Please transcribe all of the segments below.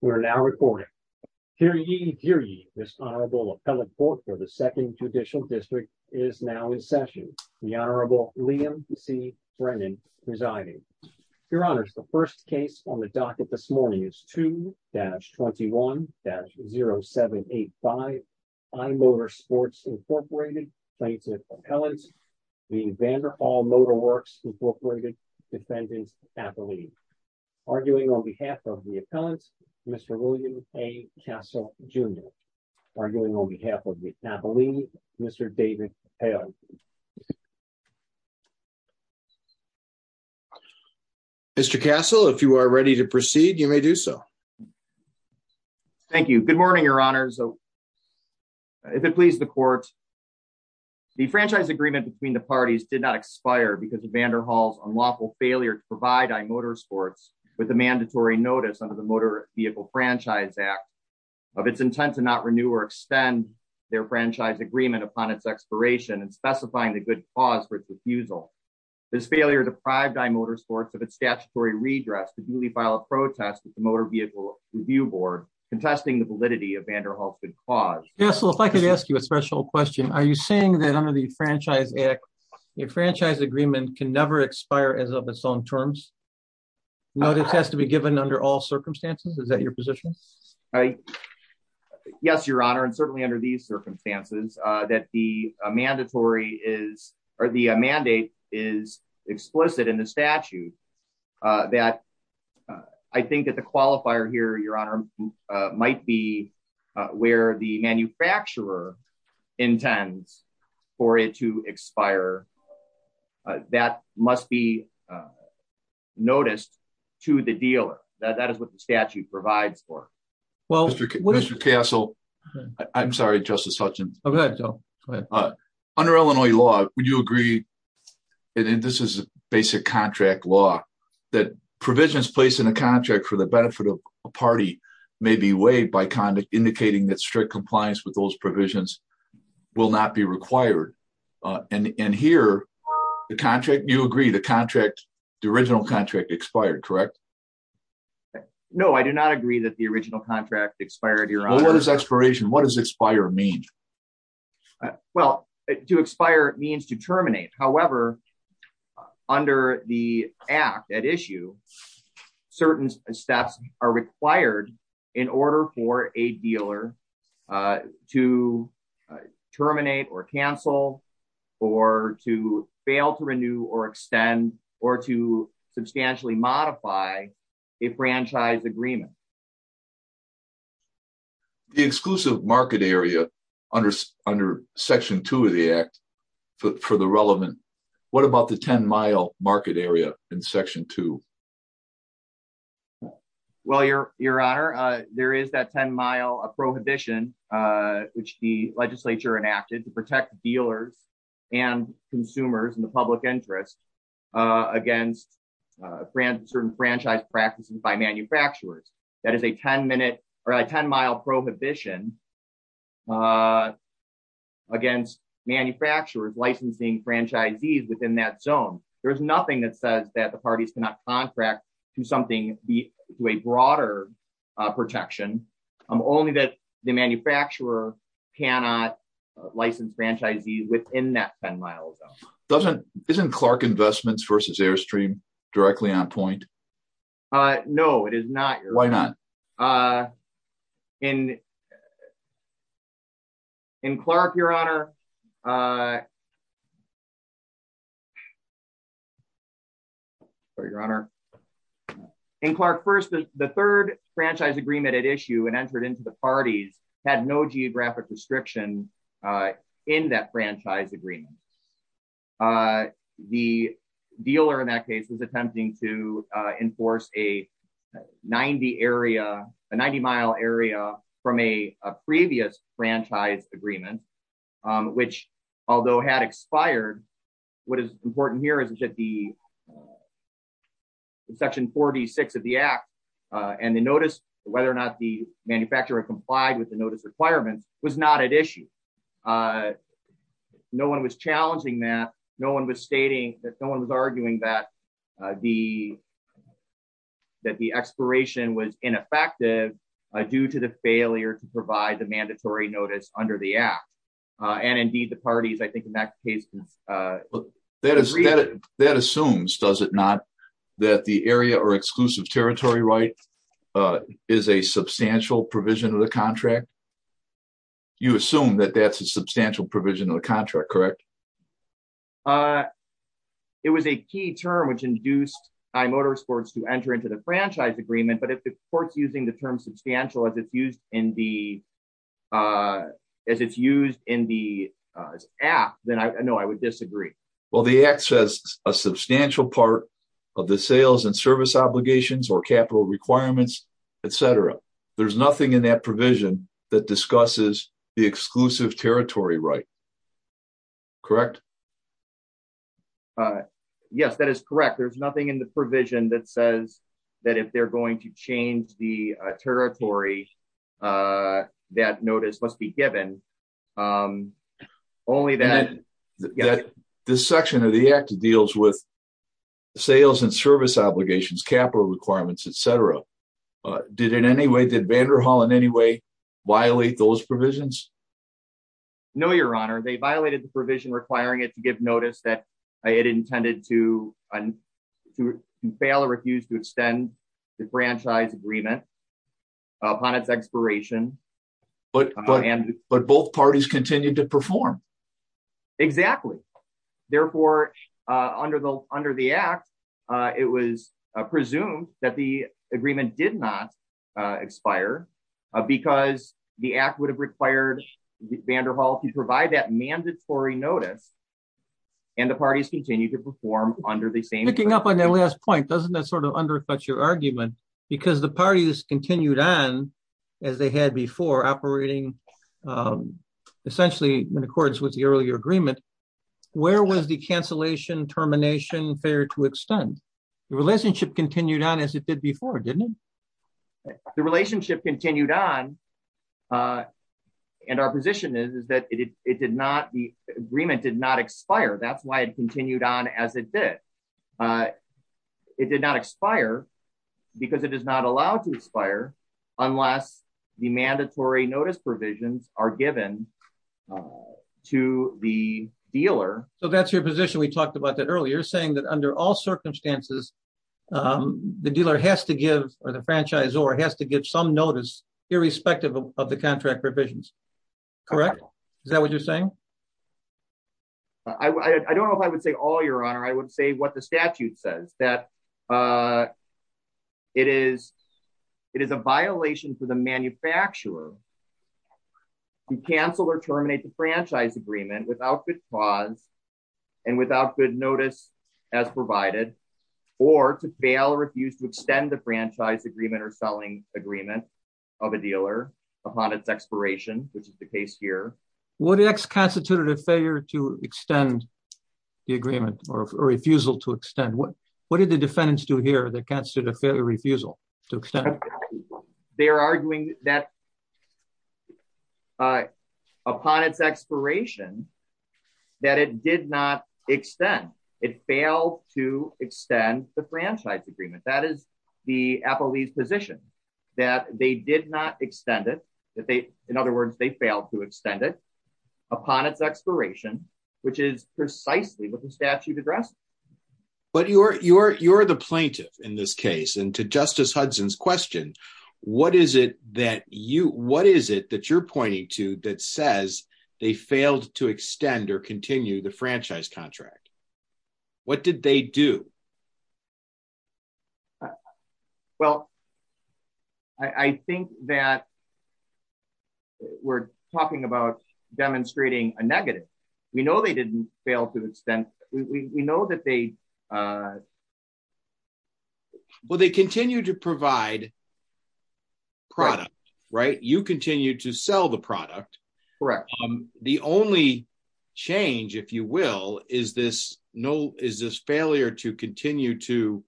We are now recording. Hear ye, hear ye, this Honorable Appellate Court for the Second Judicial District is now in session. The Honorable Liam C. Brennan presiding. Your Honors, the first case on the docket this morning is 2-21-0785, iMotorsports, Inc. plaintiff Matt Belene, arguing on behalf of the appellant, Mr. William A. Castle, Jr., arguing on behalf of Matt Belene, Mr. David Hale. Mr. Castle, if you are ready to proceed, you may do so. Thank you. Good morning, Your Honors. If it please the Court, the franchise agreement between the parties did not expire because of unlawful failure to provide iMotorsports with a mandatory notice under the Motor Vehicle Franchise Act of its intent to not renew or extend their franchise agreement upon its expiration and specifying the good cause for its refusal. This failure deprived iMotorsports of its statutory redress to duly file a protest with the Motor Vehicle Review Board contesting the validity of Vanderhall's good cause. Mr. Castle, if I could ask you a special question. Are you saying that under the Franchise Act, a franchise agreement can never expire as of its own terms? Notice has to be given under all circumstances? Is that your position? Yes, Your Honor, and certainly under these circumstances, that the mandate is explicit in the statute. I think that the qualifier here, Your Honor, might be where the manufacturer intends for it to expire. That must be noticed to the dealer. That is what the statute provides for. Mr. Castle, I'm sorry, Justice Hutchins. Under Illinois law, would you agree, and this is a basic contract law, that provisions placed in a contract for the benefit of a party may be waived by indicating that strict compliance with those provisions will not be required? Here, you agree the original contract expired, correct? No, I do not agree that the original contract expired, Your Honor. Well, what does expiration, what does expire mean? Well, to expire means to terminate. However, under the Act at issue, certain steps are required in order for a dealer to terminate or cancel, or to fail to renew or extend, or to substantially modify a franchise agreement. The exclusive market area under Section 2 of the Act, for the relevant, what about the 10-mile market area in Section 2? Well, Your Honor, there is that 10-mile prohibition, which the legislature enacted to protect dealers and consumers and the public interest against certain franchise practices by manufacturers. That is a 10-mile prohibition against manufacturers licensing franchisees within that zone. There's nothing that says that the parties cannot contract to a broader protection, only that the manufacturer cannot license franchisees within that 10-mile zone. Isn't Clark Investments versus Airstream directly on point? No, it is not. Why not? In Clark, Your Honor, the third franchise agreement at issue and entered into the parties had no geographic restriction in that franchise agreement. The dealer in that case was attempting to enforce a 90-mile area from a previous franchise agreement, which although had expired, what is important here is that the Section 46 of the Act and the notice whether or not the manufacturer complied with the notice requirements was not at issue. No one was challenging that. No one was stating that no one was arguing that the expiration was ineffective due to the failure to provide the mandatory notice under the Act. Indeed, the parties, I think in that case, That assumes, does it not, that the area or exclusive territory right is a substantial provision of the contract? You assume that that's a substantial provision of the contract, correct? It was a key term which induced iMotorsports to enter into the franchise agreement, but if the court's using the term substantial as it's used in the Act, then no, I would disagree. Well, the Act says a substantial part of the sales and service obligations or capital requirements, etc. There's nothing in that provision that discusses the Yes, that is correct. There's nothing in the provision that says that if they're going to change the territory, that notice must be given. Only that this section of the Act deals with sales and service obligations, capital requirements, etc. Did it in any way, did Vanderhall in any way violate those provisions? No, Your Honor. They violated the provision requiring it to give notice that it intended to fail or refuse to extend the franchise agreement upon its expiration. But both parties continued to perform. Exactly. Therefore, under the Act, it was presumed that the agreement did not expire because the Act would have required Vanderhall to provide that mandatory notice, and the parties continued to perform under the same. Picking up on that last point, doesn't that sort of undercut your argument? Because the parties continued on as they had before, operating essentially in accordance with the earlier agreement, where was the cancellation termination fair to extend? The relationship continued on as did before, didn't it? The relationship continued on, and our position is that the agreement did not expire. That's why it continued on as it did. It did not expire because it is not allowed to expire unless the mandatory notice provisions are given to the dealer. So that's your position. We talked about that earlier, saying that under all circumstances, the dealer has to give or the franchisor has to give some notice irrespective of the contract provisions. Correct? Is that what you're saying? I don't know if I would say all, Your Honor. I would say what the statute says, that it is a violation for the manufacturer to cancel or terminate the franchise agreement without good cause and without good notice as provided, or to fail or refuse to extend the franchise agreement or selling agreement of a dealer upon its expiration, which is the case here. What constitutes a failure to extend the agreement or a refusal to extend? What did the defendants do here that constitute a failure refusal to extend? They're arguing that upon its expiration, that it did not extend. It failed to extend the franchise agreement. That is the Applebee's position, that they did not extend it. In other words, they failed to extend it upon its expiration, which is precisely what the statute addressed. But you're the plaintiff in this case. And to Justice Hudson's question, what is it that you're pointing to that says they failed to extend or continue the franchise contract? What did they do? Well, I think that we're talking about demonstrating a negative. We know they didn't fail to extend. We know that they... Well, they continue to provide the product, right? You continue to sell the product. The only change, if you will, is this failure to continue to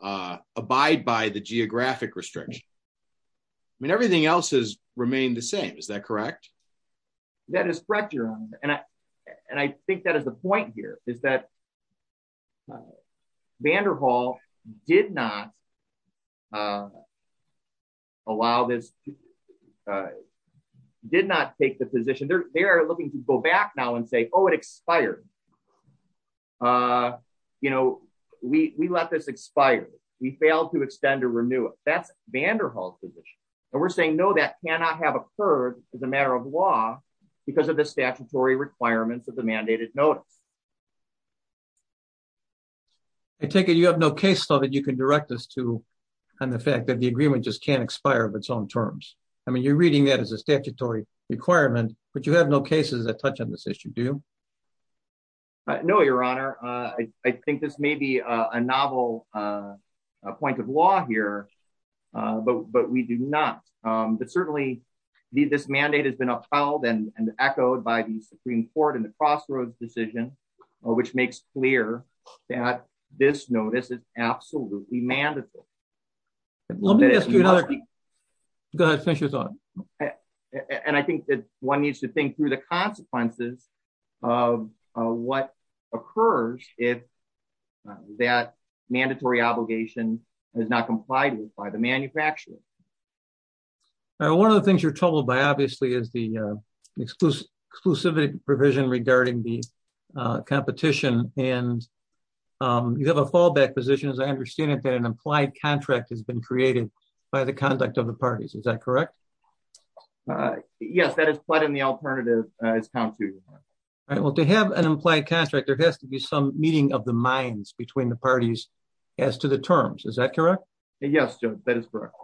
abide by the geographic restriction. I mean, everything else has remained the same. Is that correct? That is correct, Your Honor. And I think that the point here is that Vanderhall did not take the position... They are looking to go back now and say, oh, it expired. We let this expire. We failed to extend or renew it. That's Vanderhall's position. And we're saying, no, that cannot have occurred as a matter of law because of the geographic restriction. And we're saying, no, that cannot have occurred as a matter of law. I take it you have no case still that you can direct us to on the fact that the agreement just can't expire of its own terms. I mean, you're reading that as a statutory requirement, but you have no cases that touch on this issue, do you? No, Your Honor. I think this may be a novel point of law here, but we do not. But certainly, this mandate has been upheld and echoed by the Supreme Court in the Crossroads decision, which makes clear that this notice is absolutely mandatory. Go ahead. Finish your thought. And I think that one needs to think through the consequences of what occurs if that mandatory obligation is not complied with by the manufacturer. One of the things you're troubled by, obviously, is the exclusivity provision regarding the competition. And you have a fallback position, as I understand it, that an implied contract has been created by the conduct of the parties. Is that correct? Yes, that is. But in the alternative, it's count two, Your Honor. Well, to have an implied contract, there has to be some meeting of the minds between the parties as to the terms. Is that correct? Yes, that is correct.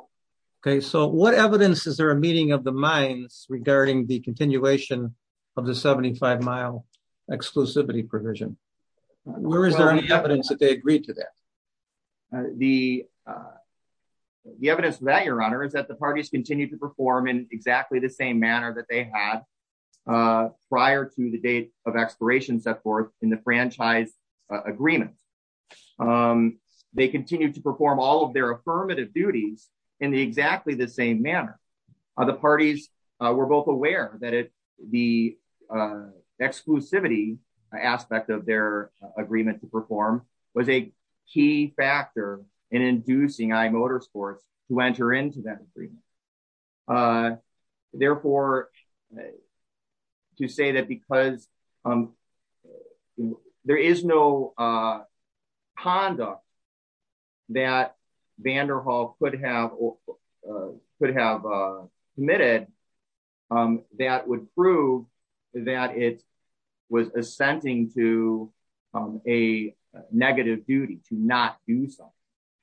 Okay. So what evidence is there a meeting of the minds regarding the continuation of the 75-mile exclusivity provision? Where is there any evidence that they agreed to that? The evidence that, Your Honor, is that the parties continued to perform in exactly the same manner that they had prior to the date of expiration set forth in the franchise agreement. They continued to perform all of their affirmative duties in exactly the same manner. The parties were both aware that the exclusivity aspect of their agreement to perform was a key factor in inducing iMotorsports to enter into that agreement. Therefore, to say that because there is no conduct that Vanderhall could have committed, that would prove that it was assenting to a negative duty to not do so.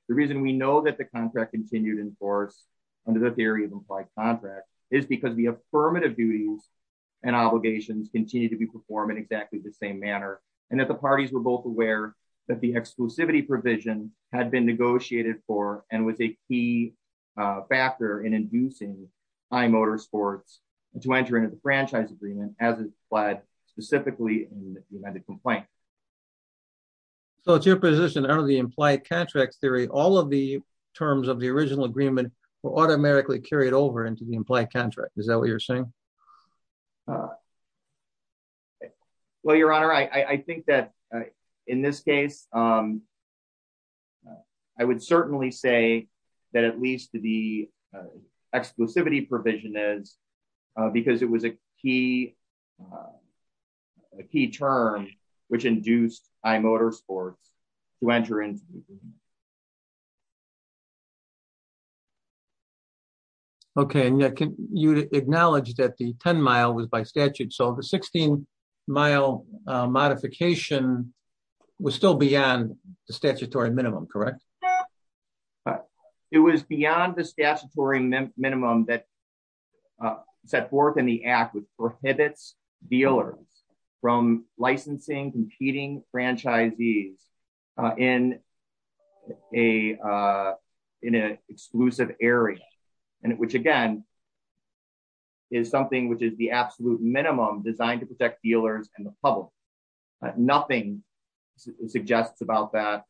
The reason we know that the contract continued in force under the theory of implied contract is because the affirmative duties and obligations continue to be performed in exactly the same manner and that the parties were both aware that the exclusivity provision had been negotiated for and was a key factor in inducing iMotorsports to enter into the franchise agreement as implied specifically in the amended complaint. So it's your position under the implied contract theory, all of the terms of the original agreement were automatically carried over into the implied contract. Is that what you're saying? Well, your honor, I think that in this case, I would certainly say that at least the exclusivity provision is because it was a key term which induced iMotorsports to enter into the agreement. Okay. And can you acknowledge that the 10-mile was by statute? So the 16-mile modification was still beyond the statutory minimum, correct? It was beyond the statutory minimum that set forth in the act which prohibits dealers from in an exclusive area and which again is something which is the absolute minimum designed to protect dealers and the public. Nothing suggests about that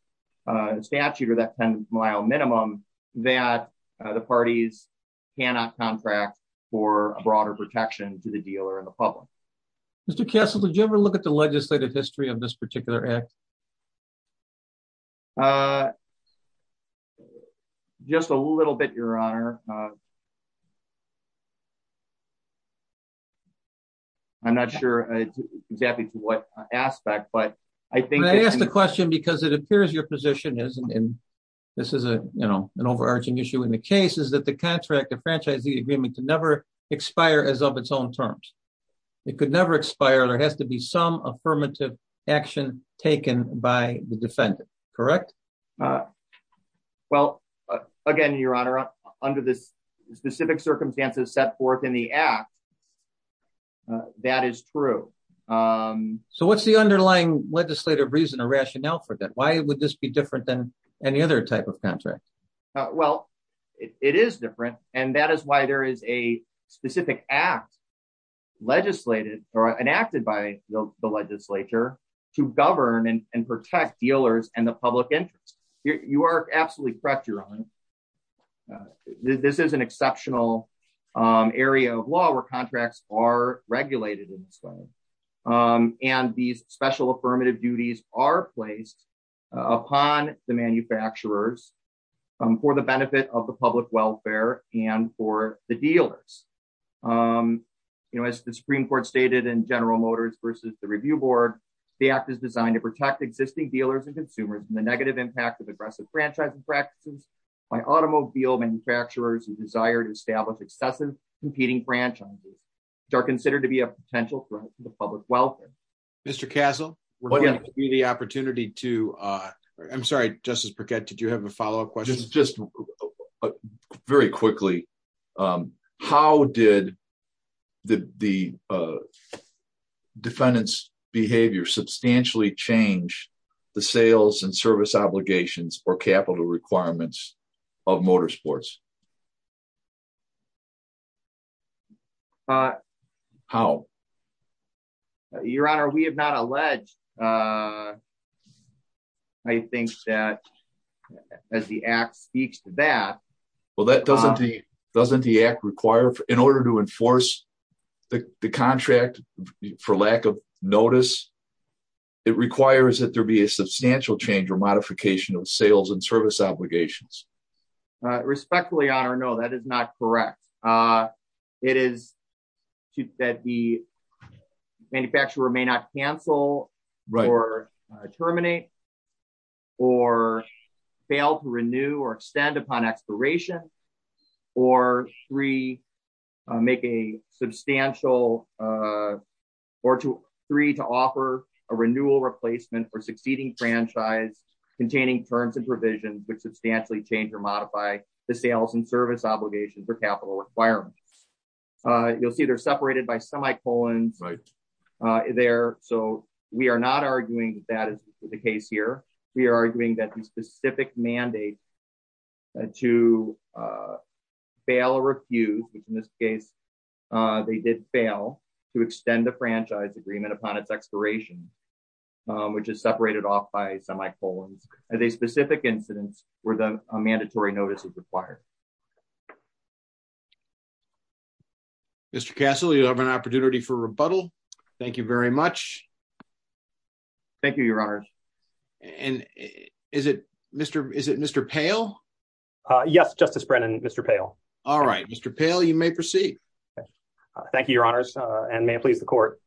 statute or that 10-mile minimum that the parties cannot contract for a broader protection to the dealer and the public. Mr. Kessler, did you ever look at the legislative history of this particular act? Just a little bit, your honor. I'm not sure exactly to what aspect, but I think- I asked the question because it appears your position is, and this is an overarching issue in the case, is that the contract, the franchisee agreement could never expire as of its own terms. It could never expire. There has to be some affirmative action taken by the defendant, correct? Well, again, your honor, under the specific circumstances set forth in the act, that is true. So what's the underlying legislative reason or rationale for that? Why would this be different than any other type of contract? Well, it is different and that is why there is a specific act legislated or enacted by the legislature to govern and protect dealers and the public interest. You are absolutely correct, your honor. This is an exceptional area of law where contracts are regulated in this way. And these special affirmative duties are placed upon the manufacturers for the benefit of the public welfare and for the dealers. As the Supreme Court stated in General Motors versus the Review Board, the act is designed to the negative impact of aggressive franchising practices by automobile manufacturers who desire to establish excessive competing franchises, which are considered to be a potential threat to the public welfare. Mr. Castle, we're going to give you the opportunity to- I'm sorry, Justice Burkett, did you have a follow-up question? Just very quickly, how did the behavior substantially change the sales and service obligations or capital requirements of motorsports? How? Your honor, we have not alleged, I think that as the act speaks to that- doesn't the act require, in order to enforce the contract for lack of notice, it requires that there be a substantial change or modification of sales and service obligations. Respectfully, your honor, no, that is not correct. It is that the manufacturer may not cancel or terminate or fail to renew or extend upon expiration or three, make a substantial- or three, to offer a renewal replacement for succeeding franchise containing terms and provisions which substantially change or modify the sales and service obligations or capital requirements. You'll see they're arguing that the specific mandate to fail or refuse, which in this case they did fail, to extend the franchise agreement upon its expiration, which is separated off by semi-colons, as a specific incidence where a mandatory notice is required. Mr. Castle, you have an opportunity for rebuttal. Thank you very much. Thank you, your honor. And is it Mr. Pail? Yes, Justice Brennan, Mr. Pail. All right, Mr. Pail, you may proceed. Thank you, your honors, and may it please the court.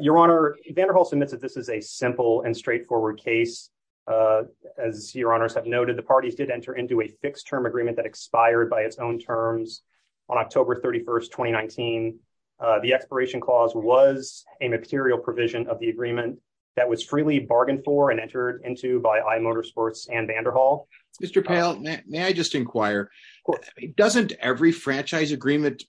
Your honor, Vanderhulst admits that this is a simple and straightforward case. As your honors have noted, the parties did enter into a fixed-term agreement that expired by its own terms on October 31st, 2019. The expiration clause was a material provision of the agreement that was freely bargained for and entered into by iMotorsports and Vanderhulst. Mr. Pail, may I just inquire? Doesn't every franchise agreement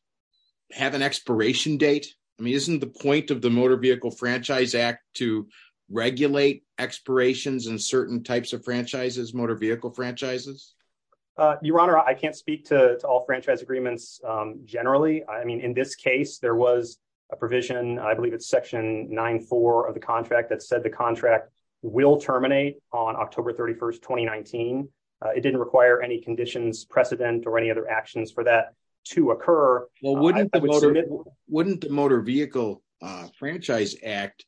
have an expiration date? I mean, isn't the point of the Motor Vehicle Franchise Act to regulate expirations in certain types of agreements generally? I mean, in this case, there was a provision, I believe it's Section 9-4 of the contract, that said the contract will terminate on October 31st, 2019. It didn't require any conditions, precedent, or any other actions for that to occur. Well, wouldn't the Motor Vehicle Franchise Act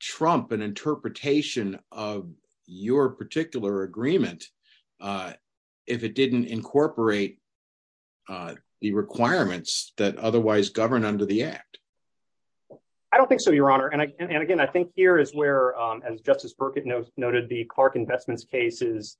trump an interpretation of your particular agreement if it didn't incorporate the requirements that otherwise govern under the act? I don't think so, your honor. And again, I think here is where, as Justice Burkett noted, the Clark Investments case is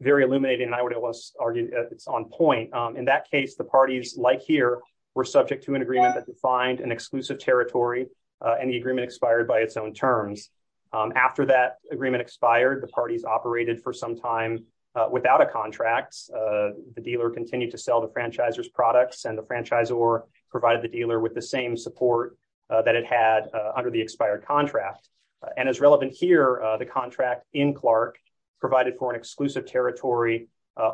very illuminating, and I would argue it's on point. In that case, the parties, like here, were subject to an agreement that defined an exclusive territory, and the agreement expired by its own terms. After that agreement expired, the parties operated for some time without a contract. The dealer continued to sell the franchisor's products, and the franchisor provided the dealer with the same support that it had under the expired contract. And as relevant here, the contract in Clark provided for an exclusive territory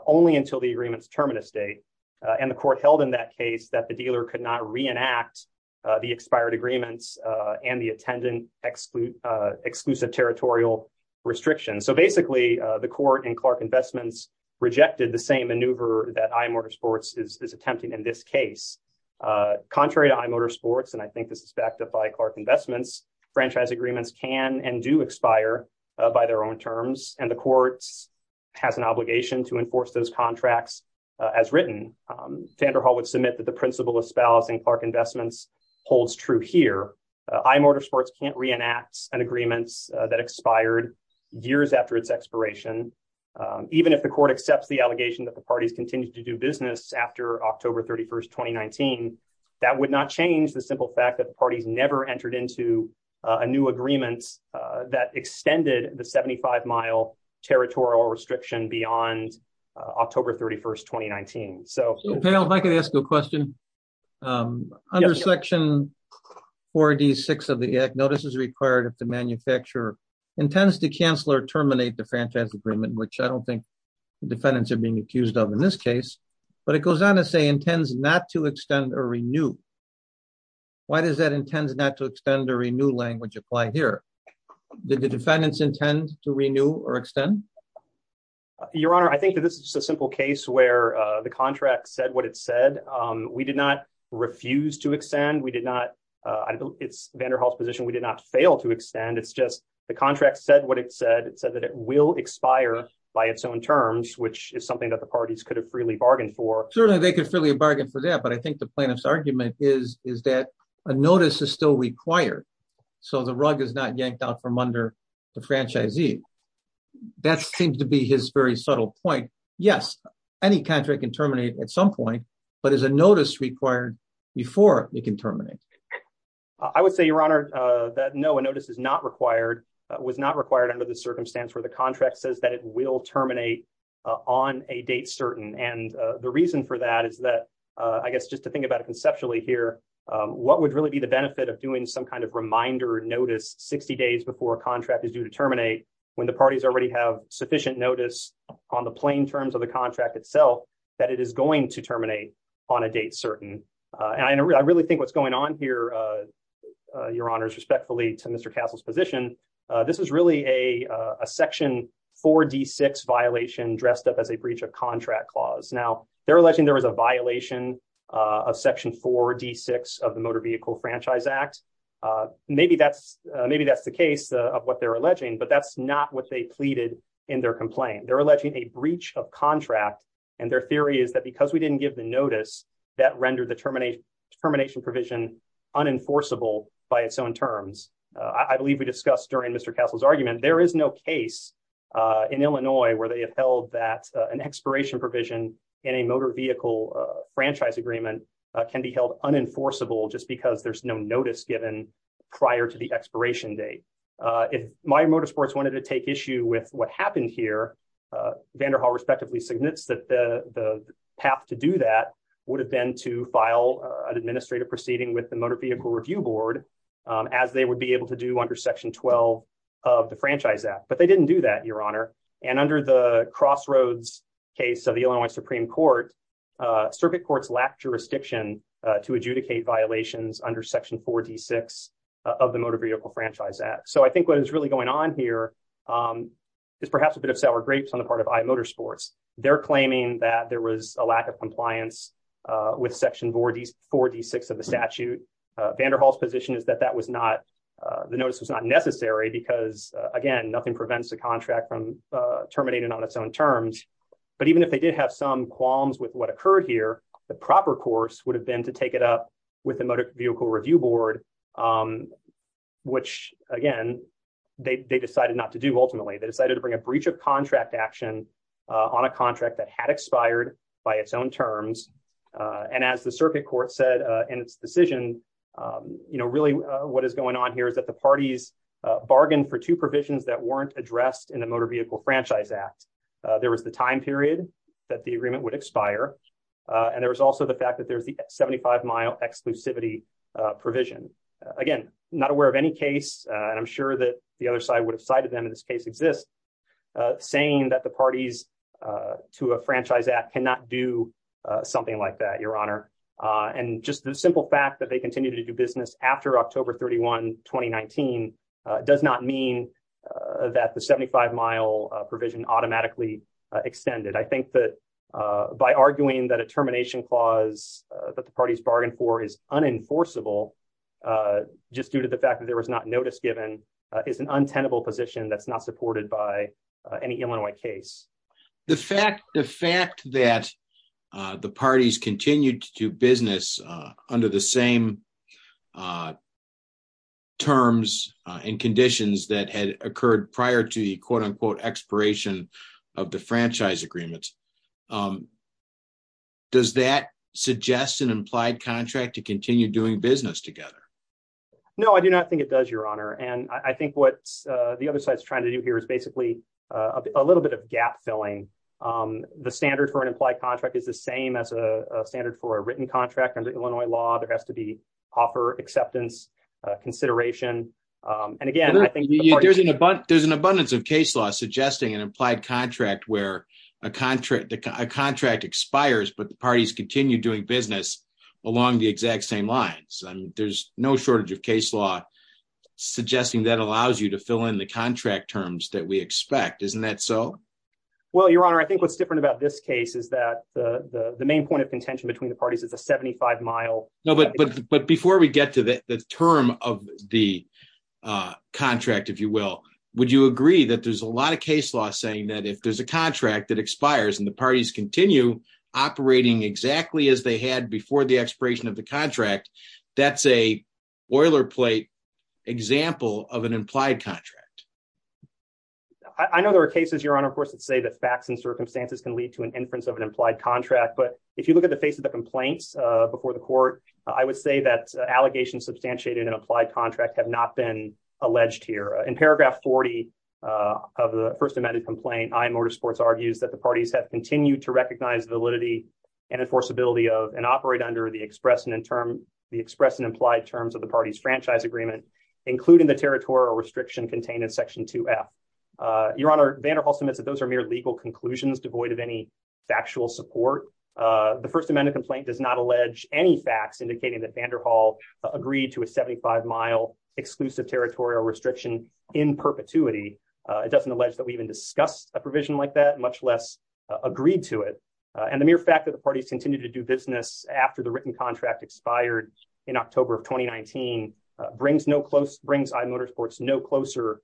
only until the agreement's terminus date, and the court held in that case that the dealer could not reenact the expired agreements and the attendant exclusive territorial restrictions. So basically, the court in Clark Investments rejected the same maneuver that iMotor Sports is attempting in this case. Contrary to iMotor Sports, and I think this is backed up by Clark Investments, franchise agreements can and do expire by their own terms, and the court has an obligation to enforce those contracts as written. Vanderhall would submit that the principle espousing Clark Investments holds true here. iMotor Sports can't reenact an agreement that expired years after its expiration. Even if the court accepts the allegation that the parties continued to do business after October 31st, 2019, that would not change the simple fact that the parties never entered into a new agreement that extended the 75-mile territorial restriction beyond October 31st, 2019. So, if I could ask a question. Under Section 4D6 of the Act, notice is required if the manufacturer intends to cancel or terminate the franchise agreement, which I don't think the defendants are being accused of in this case, but it goes on to say intends not to extend or renew. Why does that intends not to extend or renew language apply here? Did the defendants intend to renew or extend? Your Honor, I think that this is a simple case where the contract said what it said. We did not refuse to extend. We did not, it's Vanderhall's position, we did not fail to extend. It's just the contract said what it said. It said that it will expire by its own terms, which is something that the parties could have freely bargained for. Certainly, they could freely bargain for that, but I think the plaintiff's argument is that a notice is still required so the rug is not yanked out from under the franchisee. That seems to be his very subtle point. Yes, any contract can terminate at some point, but is a notice required before it can terminate? I would say, Your Honor, that no, a notice is not required, was not required under the circumstance where the contract says that it will terminate on a date certain. And the reason for that is that, I guess just to think about it conceptually here, what would really be the benefit of doing some kind of reminder notice 60 days before a contract is due to terminate when the parties already have sufficient notice on the plain terms of the what's going on here, Your Honors, respectfully to Mr. Castle's position, this is really a section 4D6 violation dressed up as a breach of contract clause. Now, they're alleging there was a violation of section 4D6 of the Motor Vehicle Franchise Act. Maybe that's the case of what they're alleging, but that's not what they pleaded in their complaint. They're alleging a breach of contract, and their theory is that because we didn't give the notice, that rendered termination provision unenforceable by its own terms. I believe we discussed during Mr. Castle's argument, there is no case in Illinois where they have held that an expiration provision in a motor vehicle franchise agreement can be held unenforceable just because there's no notice given prior to the expiration date. If Meijer Motorsports wanted to take issue with what happened here, Vanderhall respectively submits that the path to do that would have been to file an administrative proceeding with the Motor Vehicle Review Board, as they would be able to do under section 12 of the Franchise Act. But they didn't do that, Your Honor, and under the Crossroads case of the Illinois Supreme Court, circuit courts lack jurisdiction to adjudicate violations under section 4D6 of the Motor Vehicle Franchise Act. So I think what is really going on here is perhaps a bit of sour grapes on the part of IMotorsports. They're claiming that there was a lack of compliance with section 4D6 of the statute. Vanderhall's position is that that was not, the notice was not necessary, because again, nothing prevents a contract from terminating on its own terms. But even if they did have some qualms with what occurred here, the proper course would have been to take it up with the Motor Vehicle Review Board, which again, they decided not to do. Ultimately, they decided to bring a breach of contract action on a contract that had expired by its own terms. And as the circuit court said in its decision, you know, really, what is going on here is that the parties bargained for two provisions that weren't addressed in the Motor Vehicle Franchise Act. There was the time period that the agreement would expire. And there was also the fact that there's the 75 mile exclusivity provision. Again, not aware of any case, and I'm sure that the other side would have cited them in this case exist, saying that the parties to a franchise act cannot do something like that, Your Honor. And just the simple fact that they continue to do business after October 31, 2019, does not mean that the 75 mile provision automatically extended. I think that by arguing that a termination clause that the fact that there was not notice given is an untenable position that's not supported by any Illinois case. The fact that the parties continued to do business under the same terms and conditions that had occurred prior to the quote unquote expiration of the franchise agreements. Does that suggest an implied contract to continue doing business together? No, I do not think it does, Your Honor. And I think what the other side is trying to do here is basically a little bit of gap filling. The standard for an implied contract is the same as a standard for a written contract under Illinois law. There has to be offer acceptance consideration. And again, I think there's an abundance of case law suggesting an implied contract where a contract expires, but the parties continue doing business along the exact same lines. There's no shortage of case law suggesting that allows you to fill in the contract terms that we expect. Isn't that so? Well, Your Honor, I think what's different about this case is that the main point of contention between the parties is a 75 mile. No, but before we get to the term of the contract, if you will, would you agree that there's a lot of case law saying that if there's a contract that expires and the parties continue operating exactly as they had before the expiration of the contract, that's a boilerplate example of an implied contract? I know there are cases, Your Honor, of course, that say that facts and circumstances can lead to an inference of an implied contract. But if you look at the face of the complaints before the court, I would say that allegations substantiated in an implied contract have not been alleged here. In paragraph 40 of the first amended complaint, I.M. Motorsports argues that the parties have continued to recognize validity and enforceability of and operate under the express and in term the express and implied terms of the party's franchise agreement, including the territorial restriction contained in Section 2 F. Your Honor, Vanderhall submits that those are mere legal conclusions devoid of any factual support. The First Amendment complaint does not allege any facts indicating that Vanderhall agreed to a 75 mile exclusive territorial restriction in perpetuity. It doesn't allege that we even discussed a provision like that, much less agreed to it. And the mere fact that the parties continue to do business after the written contract expired in October of 2019 brings I.M. Motorsports no closer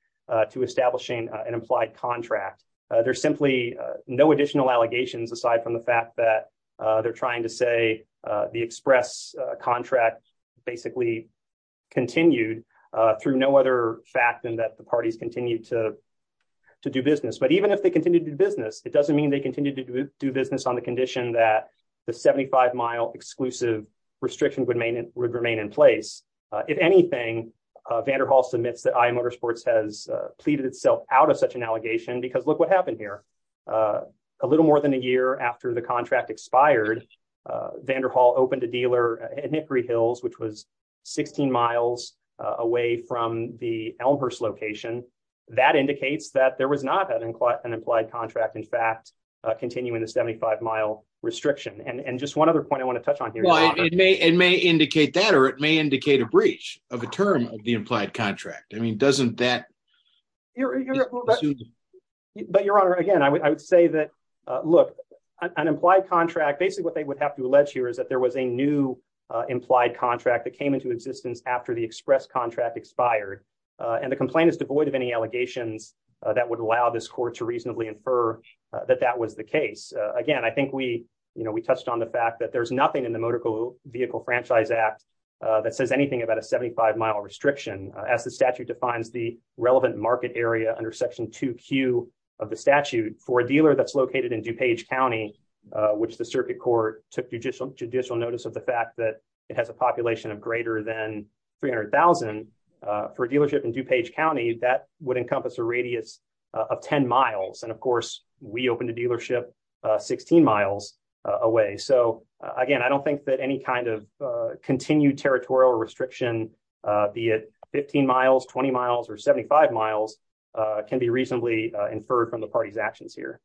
to establishing an implied contract. There's simply no additional allegations aside from the fact that they're trying to say the express contract basically continued through no other fact than that the parties continue to to do business. But even if they continue to do business, it doesn't mean they continue to do business on the condition that the 75 mile exclusive restriction would remain in place. If anything, Vanderhall submits that I.M. Motorsports has pleaded itself out of such an allegation because look what happened here. A little more than a year after the contract expired, Vanderhall opened a dealer at Hickory Hills, which was 16 miles away from the Elmhurst location. That indicates that there was not an implied contract, in fact, continuing the 75 mile restriction. And just one other point I want to touch on here. It may it may indicate that or it may indicate a breach of a term of the implied contract. I mean, doesn't that. Well, but your honor, again, I would say that, look, an implied contract, basically what they would have to allege here is that there was a new implied contract that came into existence after the express contract expired. And the complaint is devoid of any allegations that would allow this court to reasonably infer that that was the case. Again, I think we we touched on the fact that there's nothing in the Motor Vehicle Franchise Act that says anything about a 75 mile restriction as the statute defines the relevant market area under Section 2Q of the statute for a dealer that's located in DuPage County, which the circuit court took judicial judicial notice of the fact that it has a population of greater than 300,000 for a dealership in DuPage County. That would encompass a radius of 10 miles. And of course, we opened a dealership 16 miles away. So again, I don't think that any kind of continued territorial restriction, be it 15 miles, 20 miles or 75 miles can be reasonably inferred from the party's actions here.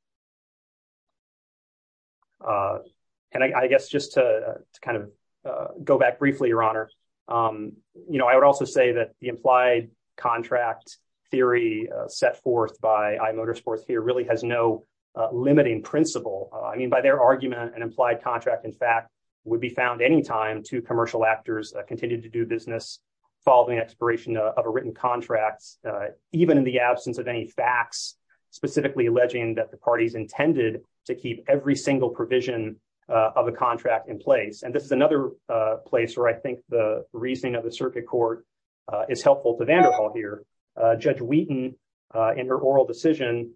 And I guess just to kind of go back briefly, your honor, you know, I would also say that the implied contract theory set forth by iMotorsports here really has no limiting principle. I mean, their argument and implied contract, in fact, would be found anytime two commercial actors continue to do business following expiration of a written contract, even in the absence of any facts specifically alleging that the parties intended to keep every single provision of a contract in place. And this is another place where I think the reasoning of the circuit court is helpful to Vanderpoel here. Judge Wheaton, in her oral decision,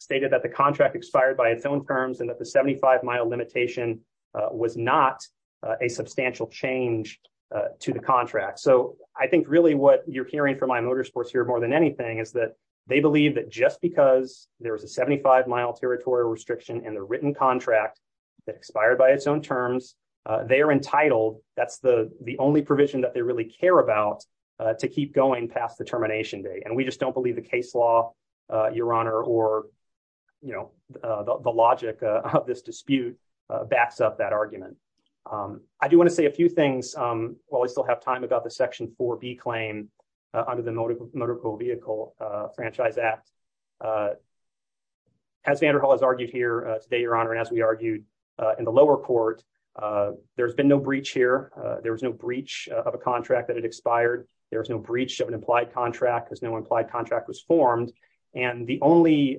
stated that the contract expired by its own terms and that the 75-mile limitation was not a substantial change to the contract. So I think really what you're hearing from iMotorsports here more than anything is that they believe that just because there was a 75-mile territorial restriction in the written contract that expired by its own terms, they are entitled, that's the only provision that they really care about, to keep going past the termination date. And we just don't believe the case law, Your Honor, or the logic of this dispute backs up that argument. I do want to say a few things while we still have time about the Section 4B claim under the Motor Vehicle Franchise Act. As Vanderpoel has argued here today, Your Honor, and as we argued in the lower court, there's been no breach here. There was no breach of a contract that had expired. There was no contract that was formed. And the only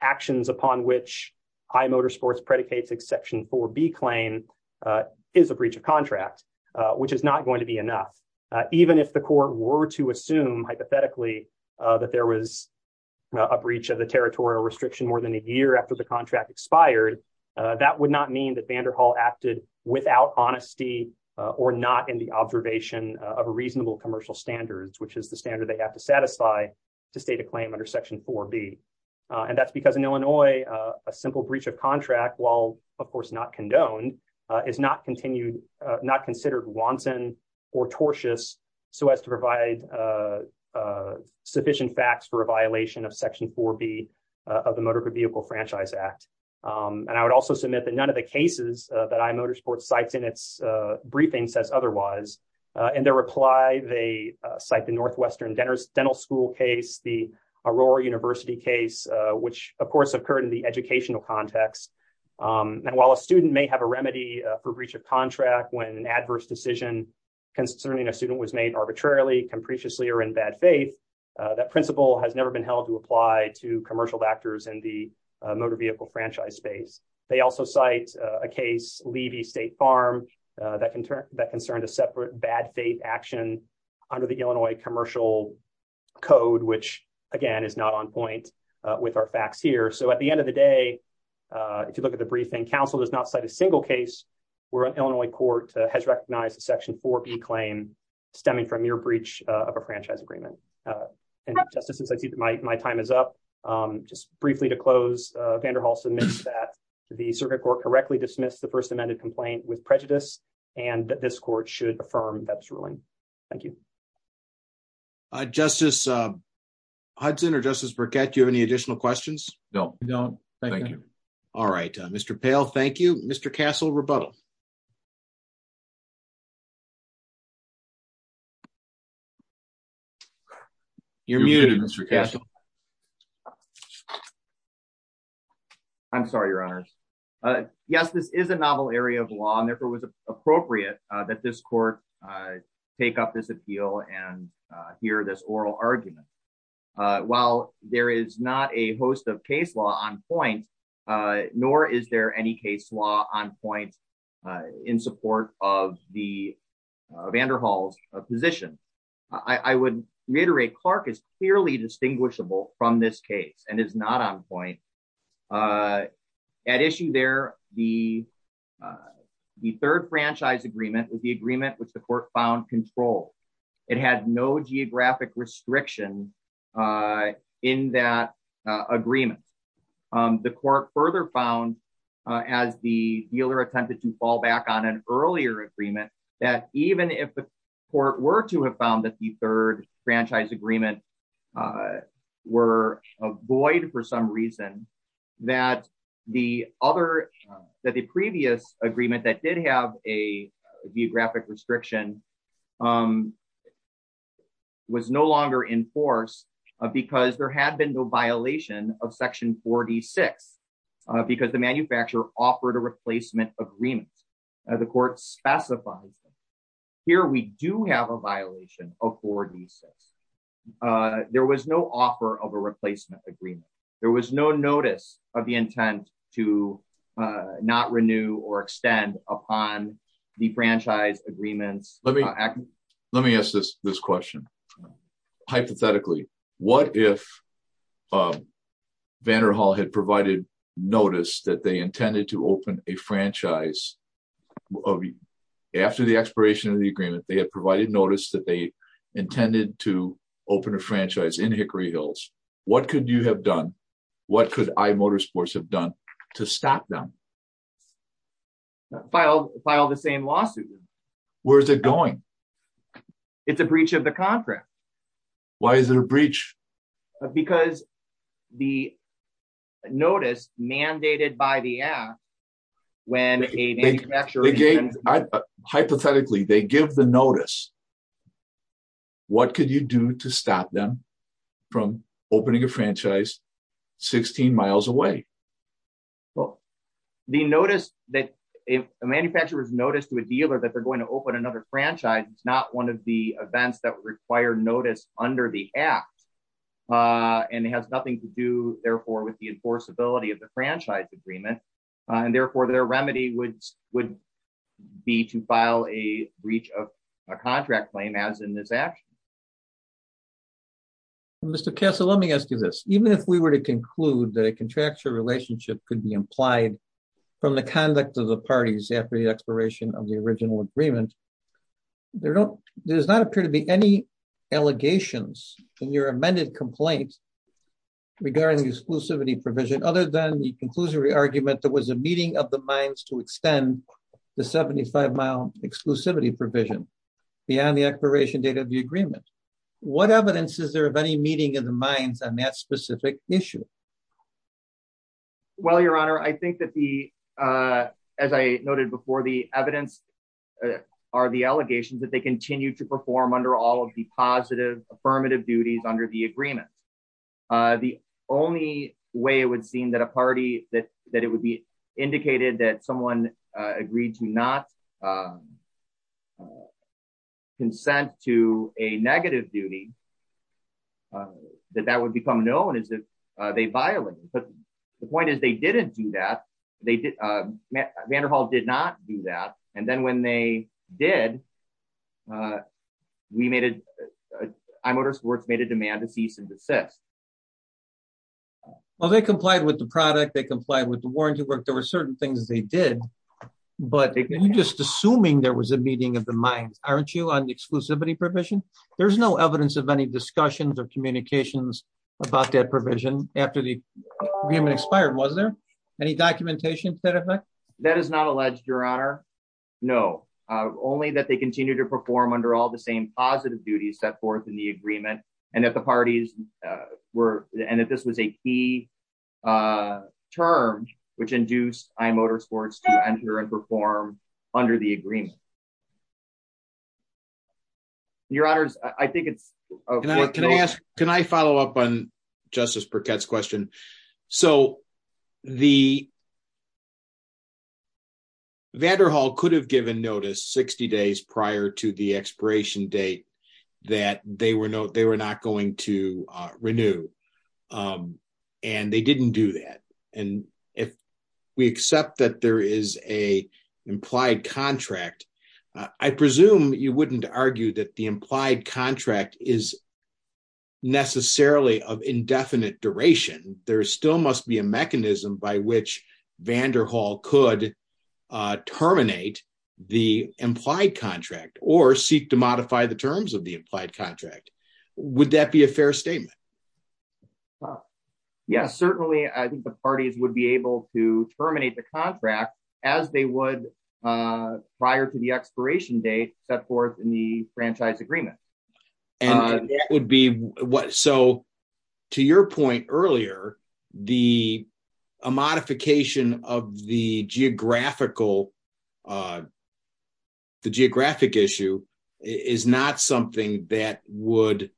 actions upon which iMotorsports predicates Exception 4B claim is a breach of contract, which is not going to be enough. Even if the court were to assume hypothetically that there was a breach of the territorial restriction more than a year after the contract expired, that would not mean that Vanderpoel acted without honesty or not in the state of claim under Section 4B. And that's because in Illinois, a simple breach of contract, while of course not condoned, is not considered wanton or tortious so as to provide sufficient facts for a violation of Section 4B of the Motor Vehicle Franchise Act. And I would also submit that none of the cases that iMotorsports cites in its briefing says otherwise. In their reply, they cite the Northwestern Dental School case, the Aurora University case, which of course occurred in the educational context. And while a student may have a remedy for breach of contract when an adverse decision concerning a student was made arbitrarily, capriciously, or in bad faith, that principle has never been held to apply to commercial actors in the motor vehicle franchise space. They also cite a case, Levy State Farm, that concerned a separate action under the Illinois Commercial Code, which again is not on point with our facts here. So at the end of the day, if you look at the briefing, counsel does not cite a single case where an Illinois court has recognized a Section 4B claim stemming from your breach of a franchise agreement. And Justice, since I see that my time is up, just briefly to close, Vander Hall submits that the Circuit Court correctly dismissed the First Amendment complaint with prejudice and this court should affirm that ruling. Thank you. Justice Hudson or Justice Burkett, do you have any additional questions? No, no. Thank you. All right. Mr. Pail, thank you. Mr. Castle, rebuttal. You're muted, Mr. Castle. I'm sorry, Your Honors. Yes, this is a novel area of law, and therefore it was appropriate that this court take up this appeal and hear this oral argument. While there is not a host of case law on point, nor is there any case law on point in support of the Vander Hall's position. I would reiterate, Clark is clearly distinguishable from this case and is not on point. At issue there, the third franchise agreement was the agreement which the court found controlled. It had no geographic restriction in that agreement. The court further found, as the dealer attempted to fall back on an earlier agreement, that even if the court were to have found that the third franchise agreement were void for some reason, that the previous agreement that did have a geographic restriction was no longer in force because there had been no violation of section 46, because the manufacturer offered a replacement agreement. The court specifies here we do have a violation of 46. There was no offer of a replacement agreement. There was no notice of the intent to not renew or extend upon the franchise agreements. Let me ask this question. Hypothetically, what if Vander Hall had provided notice that they intended to open a franchise after the expiration of the agreement? They had provided notice that they intended to open a franchise in Hickory Hills. What could you have done? What could iMotorsports have done to stop them? File the same lawsuit. Where is it going? It's a breach of the contract. Why is it a breach? Because the notice mandated by the act when a manufacturer... Hypothetically, they give the notice. What could you do to stop them from opening a franchise 16 miles away? Well, the notice that if a manufacturer's notice to a dealer that they're one of the events that require notice under the act, and it has nothing to do, therefore, with the enforceability of the franchise agreement. Therefore, their remedy would be to file a breach of a contract claim as in this action. Mr. Castle, let me ask you this. Even if we were to conclude that a contractual relationship could be implied from the conduct of the parties after the expiration of the original agreement, there does not appear to be any allegations in your amended complaint regarding the exclusivity provision other than the conclusory argument there was a meeting of the minds to extend the 75-mile exclusivity provision beyond the expiration date of the agreement. What evidence is there of any meeting of the minds on that specific issue? Well, Your Honor, I think that the... As I noted before, the evidence are the allegations that they continue to perform under all of the positive affirmative duties under the agreement. The only way it would seem that a party that it would be indicated that someone agreed to not consent to a negative duty, that that would become known as if they violated. But the point is they didn't do that. Vanderhall did not do that. And then when they did, iMotorsports made a demand to cease and desist. Well, they complied with the product. They complied with the warranty work. There were meetings of the minds. Aren't you on the exclusivity provision? There's no evidence of any discussions or communications about that provision after the agreement expired. Was there any documentation to that effect? That is not alleged, Your Honor. No, only that they continue to perform under all the same positive duties set forth in the agreement and that the parties were... And that this was a key term which induced iMotorsports to enter and exit the agreement. Your Honors, I think it's... Can I follow up on Justice Burkett's question? Vanderhall could have given notice 60 days prior to the expiration date that they were not going to I presume you wouldn't argue that the implied contract is necessarily of indefinite duration. There still must be a mechanism by which Vanderhall could terminate the implied contract or seek to modify the terms of the implied contract. Would that be a fair statement? Yes, certainly. I think the parties would be able to terminate the contract as they would prior to the expiration date set forth in the franchise agreement. So to your point earlier, the modification of the geographical... the geographic issue is not something that would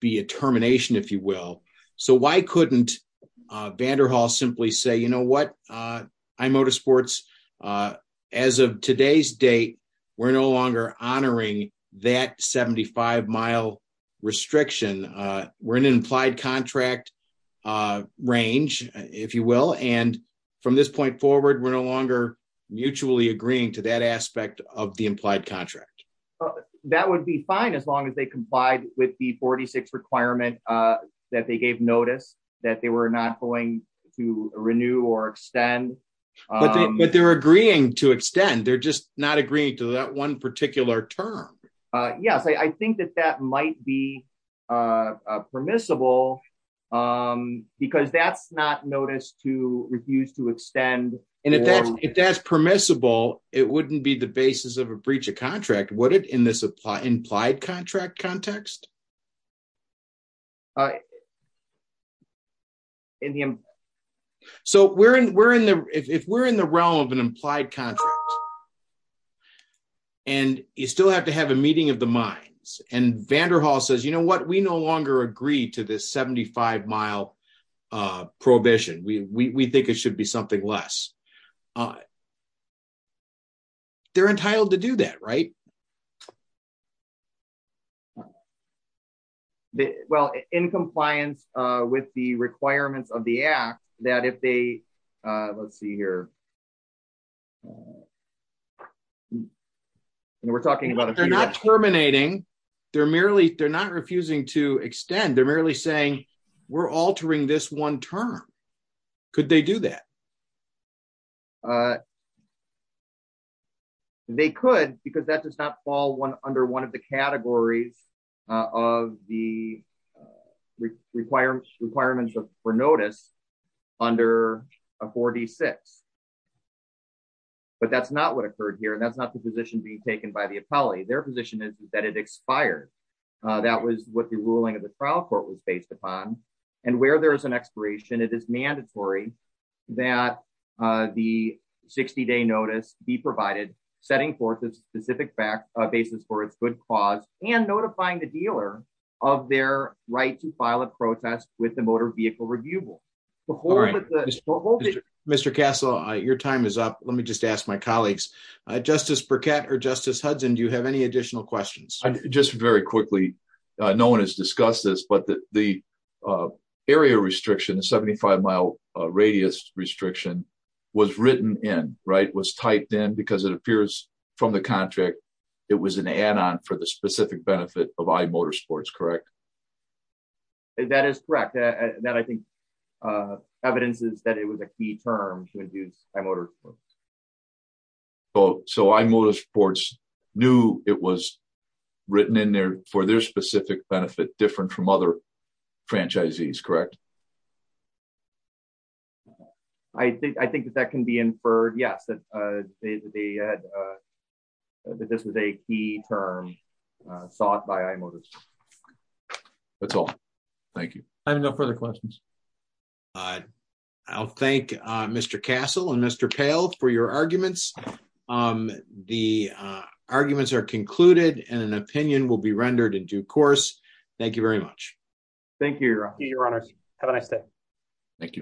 be a termination, if you will. So why couldn't Vanderhall simply say, you know what, iMotorsports, as of today's date, we're no longer honoring that 75-mile restriction. We're in an implied contract range, if you will. And from this point forward, we're no longer mutually agreeing to that aspect of the implied contract. That would be fine as long as they complied with the 46 requirement that they gave notice that they were not going to renew or extend. But they're agreeing to extend. They're just not agreeing to that one particular term. Yes, I think that that might be permissible because that's not notice to refuse to extend. And if that's permissible, it wouldn't be the basis of a breach of contract, would it, in this implied contract context? So if we're in the realm of an implied contract, and you still have to have a meeting of the minds, and Vanderhall says, you know what, we no longer agree to this 75-mile prohibition. We think it should be something less. They're entitled to do that, right? Well, in compliance with the requirements of the act, that if they, let's see here. And we're talking about- They're not terminating. They're merely, they're not refusing to extend. They're merely saying, we're altering this one term. Could they do that? They could, because that does not fall under one of the categories of the requirements for notice under 4D6. But that's not what occurred here. And that's not the position being taken by the appellee. Their position is that it expired. That was what the ruling of the trial court was based upon. And where there is an expiration, it is mandatory that the 60-day notice be provided, setting forth a specific basis for its good cause, and notifying the dealer of their right to file a protest with the Motor Vehicle Review Board. Mr. Castle, your time is up. Let me just ask my colleagues. Justice Burkett or Justice Hudson, do you have any additional questions? Just very quickly, no one has discussed this, but the area restriction, the 75-mile radius restriction, was written in, right? Was typed in, because it appears from the contract, it was an add-on for the specific benefit of iMotorsports, correct? That is correct. That, I think, evidence is that it was a key term to induce iMotorsports. Oh, so iMotorsports knew it was written in there for their specific benefit, different from other franchisees, correct? I think that that can be inferred, yes, that this was a key term sought by iMotorsports. That's all. Thank you. I have no further questions. I'll thank Mr. Castle and Mr. Pail for your arguments. The arguments are concluded, and an opinion will be rendered in due course. Thank you very much. Thank you, Your Honors. Have a nice day. Thank you.